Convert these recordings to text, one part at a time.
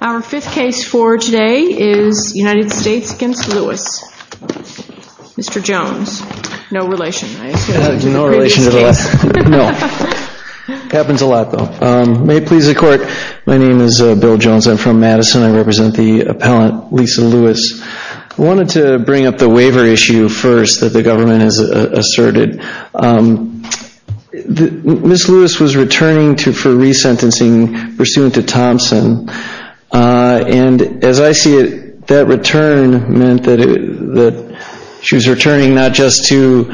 Our fifth case for today is United States v. Lewis. Mr. Jones, no relation, I assume, to the previous case. No relation to the last. No. Happens a lot, though. May it please the Court, my name is Bill Jones, I'm from Madison, I represent the appellant Lisa Lewis. I wanted to bring up the waiver issue first that the government has asserted. Ms. Lewis was returning for resentencing pursuant to Thompson. And as I see it, that return meant that she was returning not just to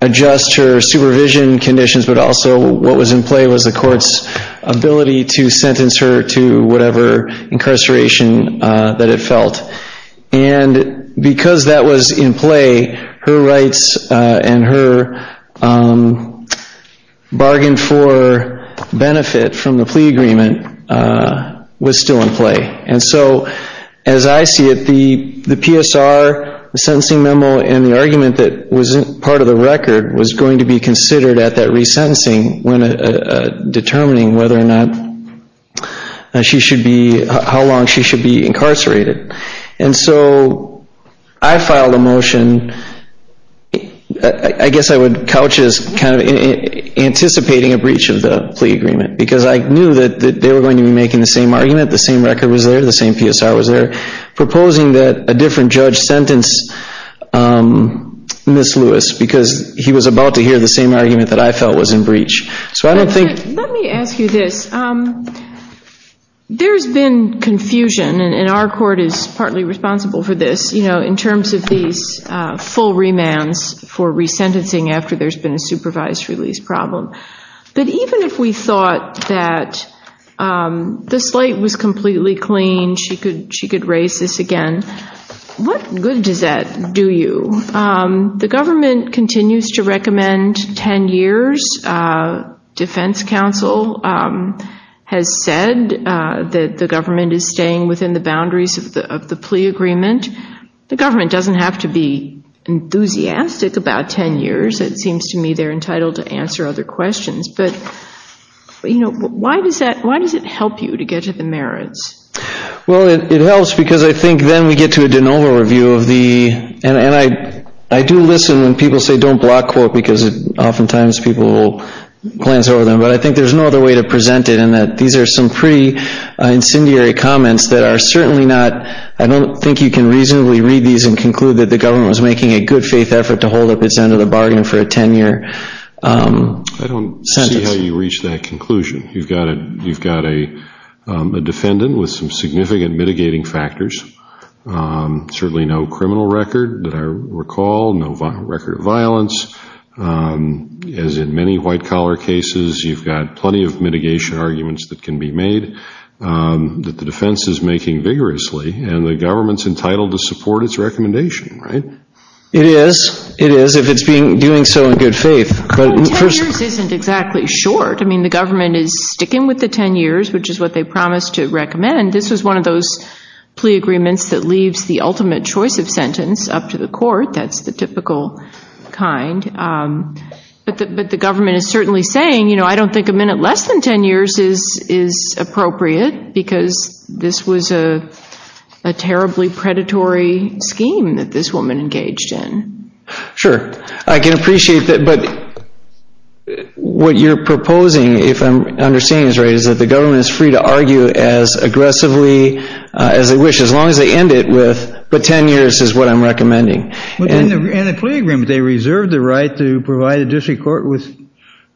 adjust her supervision conditions, but also what was in play was the Court's ability to sentence her to whatever incarceration that it felt. And because that was in play, her rights and her bargain for benefit from the plea agreement was still in play. And so, as I see it, the PSR, the sentencing memo, and the argument that wasn't part of the record was going to be considered at that resentencing when determining whether or not she should be, how long she should be incarcerated. And so, I filed a motion, I guess I would couch it as kind of anticipating a breach of the plea agreement because I knew that they were going to be making the same argument, the same record was there, the same PSR was there, proposing that a different judge sentence Ms. Lewis because he was about to hear the same argument that I felt was in breach. Let me ask you this. There's been confusion, and our Court is partly responsible for this, you know, in terms of these full remands for resentencing after there's been a supervised release problem. But even if we thought that this slate was completely clean, she could raise this again, what good does that do you? The government continues to recommend 10 years. Defense counsel has said that the government is staying within the boundaries of the plea agreement. The government doesn't have to be enthusiastic about 10 years. It seems to me they're entitled to answer other questions. But, you know, why does it help you to get to the merits? Well, it helps because I think then we get to a de novo review of the, and I do listen when people say don't block court because oftentimes people will glance over them, but I think there's no other way to present it in that these are some pretty incendiary comments that are certainly not, I don't think you can reasonably read these and conclude that the government was making a good faith effort to hold up its end of the bargain for a 10 year sentence. I don't see how you reach that conclusion. You've got a defendant with some significant mitigating factors, certainly no criminal record that I recall, no record of violence. As in many white collar cases, you've got plenty of mitigation arguments that can be made that the defense is making vigorously and the government's entitled to support its recommendation, right? It is, it is, if it's doing so in good faith. Well, 10 years isn't exactly short. I mean, the government is sticking with the 10 years, which is what they promised to recommend. This was one of those plea agreements that leaves the ultimate choice of sentence up to the court. That's the typical kind. But the government is certainly saying, you know, I don't think a minute less than 10 years is appropriate because this was a terribly predatory scheme that this woman engaged in. Sure, I can appreciate that. But what you're proposing, if I'm understanding this right, is that the government is free to argue as aggressively as they wish, as long as they end it with, but 10 years is what I'm recommending. In the plea agreement, they reserved the right to provide the district court with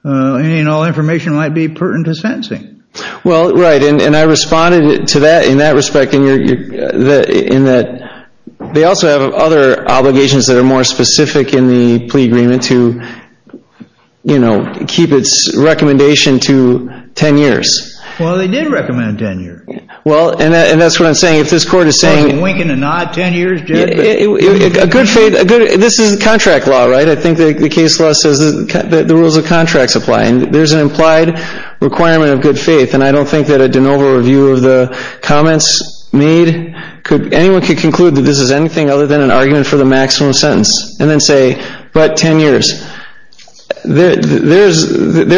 any and all information that might be pertinent to sentencing. Well, right, and I responded to that in that respect, in that they also have other obligations that are more specific in the plea agreement to, you know, keep its recommendation to 10 years. Well, they did recommend 10 years. Well, and that's what I'm saying. If this court is saying… So it's a wink and a nod, 10 years? This is contract law, right? I think the case law says that the rules of contract apply. There's an implied requirement of good faith, and I don't think that a de novo review of the comments made, anyone could conclude that this is anything other than an argument for the maximum sentence, and then say, but 10 years. There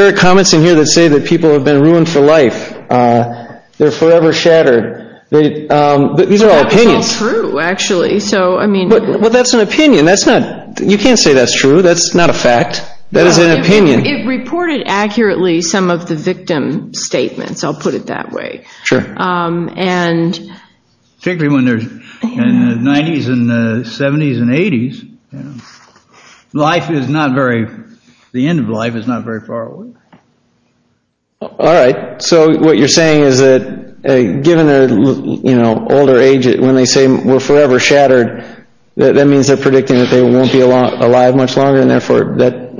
are comments in here that say that people have been ruined for life. They're forever shattered. These are all opinions. They're all true, actually. Well, that's an opinion. You can't say that's true. That's not a fact. That is an opinion. It reported accurately some of the victim statements. I'll put it that way. Sure. And… Particularly when they're in the 90s and the 70s and 80s. Life is not very, the end of life is not very far away. All right. So what you're saying is that given their older age, when they say we're forever shattered, that means they're predicting that they won't be alive much longer, and therefore that…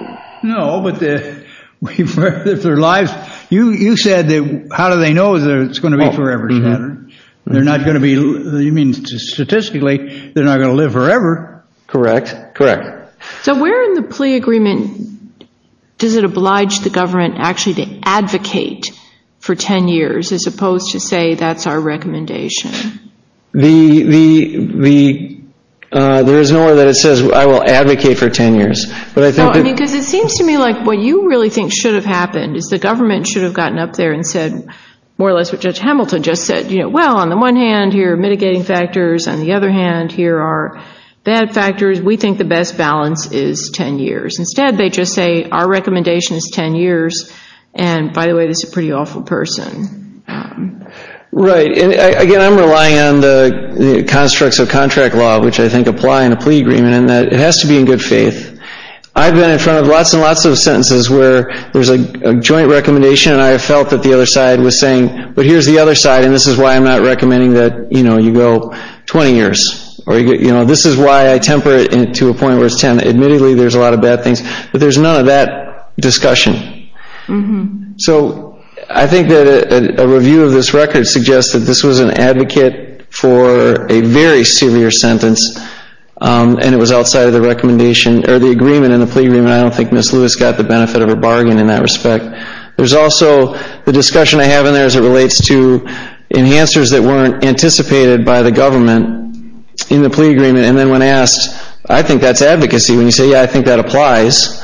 No, but if they're alive, you said that how do they know that it's going to be forever shattered? They're not going to be, statistically, they're not going to live forever. Correct. Correct. So where in the plea agreement does it oblige the government actually to advocate for 10 years as opposed to say that's our recommendation? The, the, the, there is no way that it says I will advocate for 10 years, but I think that… No, I mean, because it seems to me like what you really think should have happened is the government should have gotten up there and said more or less what Judge Hamilton just said. You know, well, on the one hand, here are mitigating factors. On the other hand, here are bad factors. We think the best balance is 10 years. Instead, they just say our recommendation is 10 years, and by the way, this is a pretty awful person. Right. And again, I'm relying on the constructs of contract law, which I think apply in a plea agreement, in that it has to be in good faith. I've been in front of lots and lots of sentences where there's a joint recommendation, and I have felt that the other side was saying, but here's the other side, and this is why I'm not recommending that, you know, you go 20 years. Or, you know, this is why I temper it to a point where it's 10. Admittedly, there's a lot of bad things, but there's none of that discussion. So I think that a review of this record suggests that this was an advocate for a very severe sentence, and it was outside of the recommendation, or the agreement in the plea agreement. I don't think Ms. Lewis got the benefit of her bargain in that respect. There's also the discussion I have in there as it relates to enhancers that weren't anticipated by the government in the plea agreement, and then when asked, I think that's advocacy. When you say, yeah, I think that applies,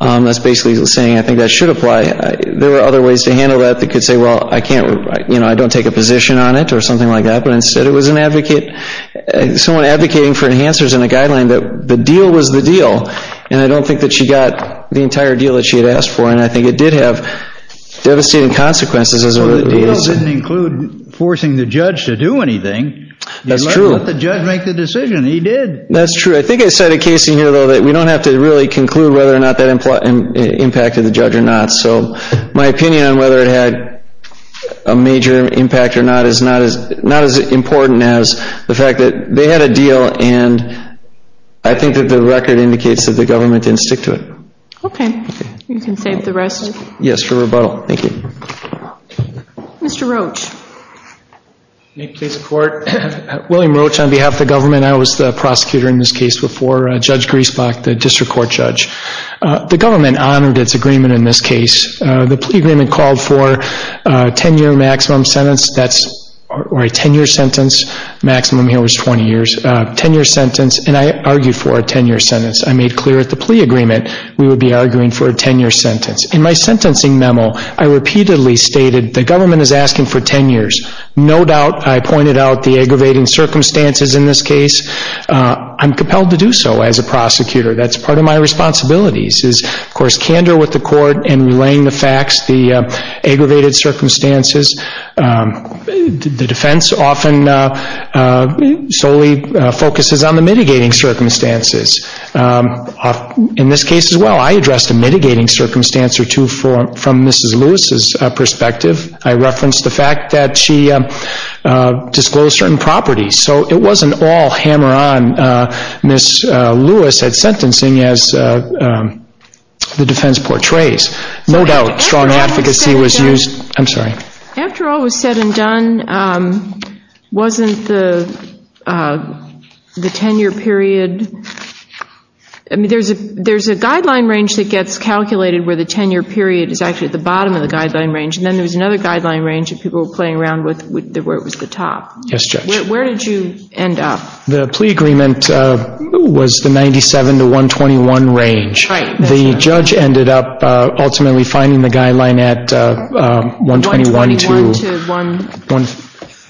that's basically saying I think that should apply. There were other ways to handle that that could say, well, I can't, you know, I don't take a position on it or something like that, but instead it was an advocate, someone advocating for enhancers in a guideline that the deal was the deal. And I don't think that she got the entire deal that she had asked for, and I think it did have devastating consequences. So the deal didn't include forcing the judge to do anything. That's true. You let the judge make the decision. He did. That's true. I think I said a case in here, though, that we don't have to really conclude whether or not that impacted the judge or not. So my opinion on whether it had a major impact or not is not as important as the fact that they had a deal, and I think that the record indicates that the government didn't stick to it. Okay. You can save the rest. Yes, for rebuttal. Thank you. Mr. Roach. May it please the Court? William Roach on behalf of the government. I was the prosecutor in this case before Judge Griesbach, the district court judge. The government honored its agreement in this case. The plea agreement called for a 10-year maximum sentence, or a 10-year sentence. Maximum here was 20 years. 10-year sentence, and I argued for a 10-year sentence. I made clear at the plea agreement we would be arguing for a 10-year sentence. In my sentencing memo, I repeatedly stated the government is asking for 10 years. No doubt I pointed out the aggravating circumstances in this case. I'm compelled to do so as a prosecutor. That's part of my responsibilities is, of course, candor with the court and relaying the facts, the aggravated circumstances. The defense often solely focuses on the mitigating circumstances. In this case as well, I addressed a mitigating circumstance or two from Mrs. Lewis's perspective. I referenced the fact that she disclosed certain properties. So it wasn't all hammer-on. Mrs. Lewis had sentencing as the defense portrays. No doubt strong advocacy was used. After all was said and done, wasn't the 10-year period, there's a guideline range that gets calculated where the 10-year period is actually at the bottom of the guideline range, and then there was another guideline range that people were playing around with where it was the top. Yes, Judge. Where did you end up? The plea agreement was the 97 to 121 range. Right. The judge ended up ultimately finding the guideline at 121 to 151.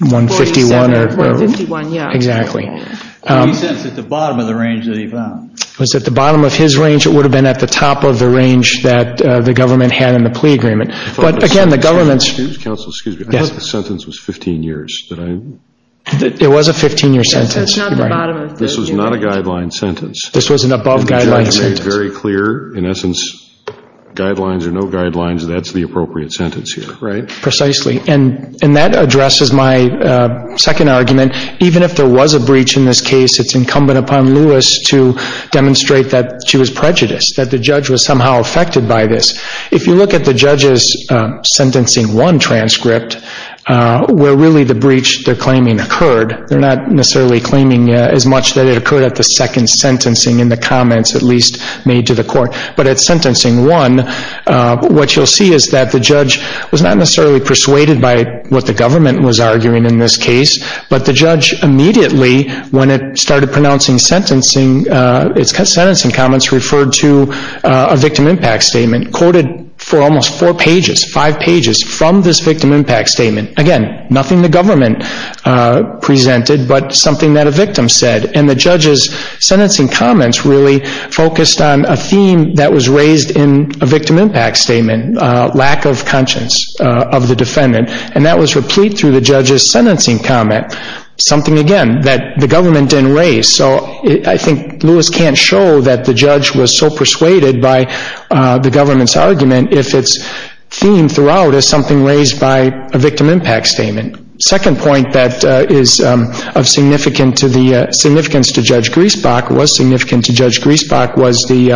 151, yeah. Exactly. He said it's at the bottom of the range that he found. It was at the bottom of his range. It would have been at the top of the range that the government had in the plea agreement. But, again, the government's – Counsel, excuse me. Yes. I thought the sentence was 15 years. It was a 15-year sentence. This was not a guideline sentence. This was an above-guideline sentence. The judge made very clear, in essence, guidelines or no guidelines, that's the appropriate sentence here. Right. Precisely. And that addresses my second argument. Even if there was a breach in this case, it's incumbent upon Lewis to demonstrate that she was prejudiced, that the judge was somehow affected by this. If you look at the judge's sentencing one transcript, where really the breach they're claiming occurred, they're not necessarily claiming as much that it occurred at the second sentencing in the comments, at least, made to the court. But at sentencing one, what you'll see is that the judge was not necessarily persuaded by what the government was arguing in this case, but the judge immediately, when it started pronouncing sentencing, its sentencing comments referred to a victim impact statement, quoted for almost four pages, five pages, from this victim impact statement. Again, nothing the government presented, but something that a victim said. And the judge's sentencing comments really focused on a theme that was raised in a victim impact statement, lack of conscience of the defendant. And that was replete through the judge's sentencing comment, something, again, that the government didn't raise. So I think Lewis can't show that the judge was so persuaded by the government's argument, if its theme throughout is something raised by a victim impact statement. Second point that is of significance to Judge Griesbach, was significant to Judge Griesbach, was the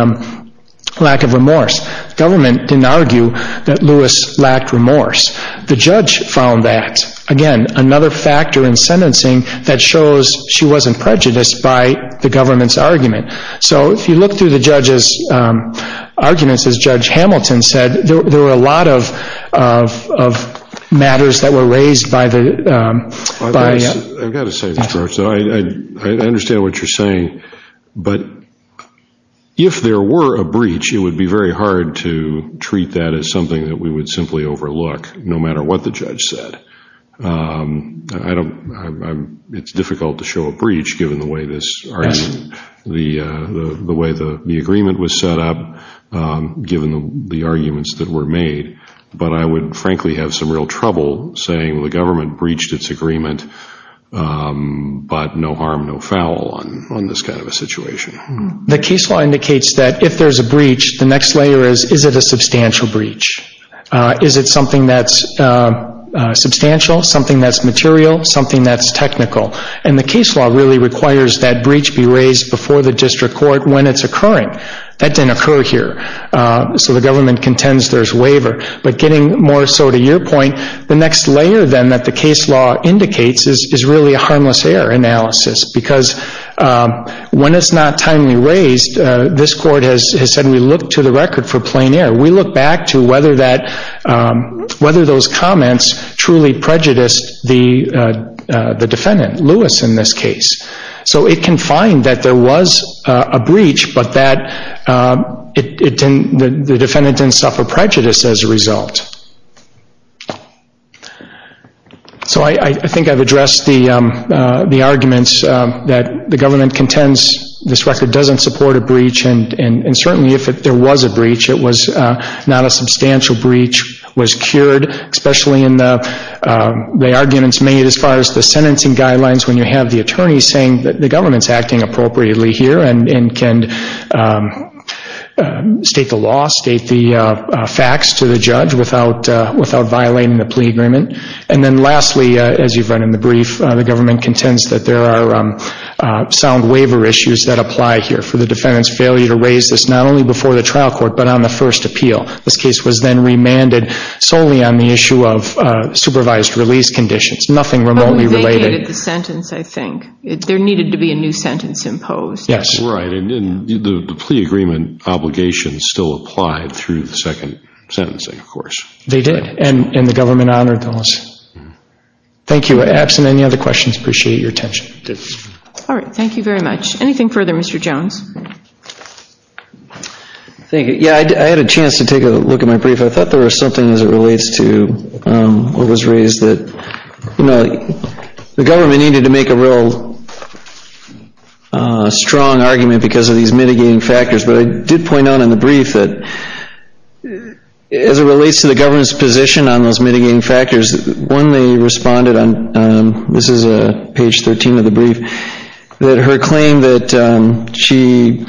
lack of remorse. Government didn't argue that Lewis lacked remorse. The judge found that. Again, another factor in sentencing that shows she wasn't prejudiced by the government's argument. So if you look through the judge's arguments, as Judge Hamilton said, there were a lot of matters that were raised by the... I've got to say this, George. I understand what you're saying, but if there were a breach, it would be very hard to treat that as something that we would simply overlook, no matter what the judge said. It's difficult to show a breach, given the way the agreement was set up, given the arguments that were made. But I would frankly have some real trouble saying the government breached its agreement, but no harm, no foul on this kind of a situation. The case law indicates that if there's a breach, the next layer is, is it a substantial breach? Is it something that's substantial, something that's material, something that's technical? And the case law really requires that breach be raised before the district court when it's occurring. That didn't occur here. So the government contends there's waiver. But getting more so to your point, the next layer then that the case law indicates is really a harmless error analysis. Because when it's not timely raised, this court has said we look to the record for plain error. We look back to whether that, whether those comments truly prejudiced the defendant, Lewis in this case. So it can find that there was a breach, but that it didn't, the defendant didn't suffer prejudice as a result. So I think I've addressed the arguments that the government contends this record doesn't support a breach. And certainly if there was a breach, it was not a substantial breach, was cured, especially in the arguments made as far as the sentencing guidelines when you have the attorney saying that the government's acting appropriately here and can state the law, state the facts to the judge without violating the plea agreement. And then lastly, as you've read in the brief, the government contends that there are sound waiver issues that apply here for the defendant's failure to raise this not only before the trial court, but on the first appeal. This case was then remanded solely on the issue of supervised release conditions. Nothing remotely related. They negated the sentence, I think. There needed to be a new sentence imposed. Yes. Right. And the plea agreement obligation still applied through the second sentencing, of course. They did. And the government honored those. Thank you. Absent any other questions, appreciate your attention. All right. Thank you very much. Anything further, Mr. Jones? Yeah, I had a chance to take a look at my brief. I thought there was something as it relates to what was raised that, you know, the government needed to make a real strong argument because of these mitigating factors. But I did point out in the brief that as it relates to the government's position on those mitigating factors, one they responded on, this is page 13 of the brief, that her claim that she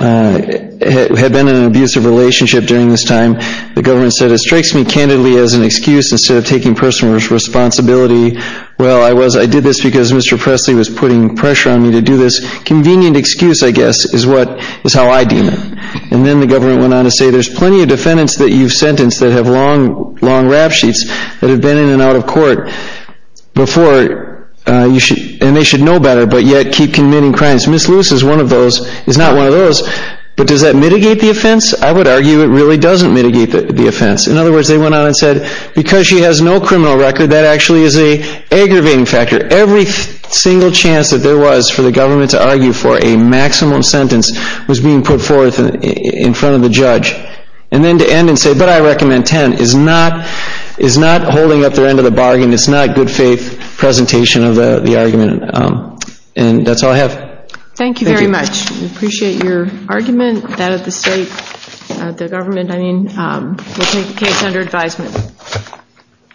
had been in an abusive relationship during this time, the government said it strikes me candidly as an excuse instead of taking personal responsibility. Well, I did this because Mr. Presley was putting pressure on me to do this. Convenient excuse, I guess, is how I deem it. And then the government went on to say there's plenty of defendants that you've sentenced that have long rap sheets that have been in and out of court before, and they should know better, but yet keep committing crimes. Ms. Lewis is one of those, is not one of those, but does that mitigate the offense? I would argue it really doesn't mitigate the offense. In other words, they went on and said because she has no criminal record, that actually is an aggravating factor. Every single chance that there was for the government to argue for a maximum sentence was being put forth in front of the judge. And then to end and say, but I recommend 10, is not holding up the end of the bargain. It's not good faith presentation of the argument. And that's all I have. Thank you very much. We appreciate your argument that the state, the government, I mean, will take the case under advisement.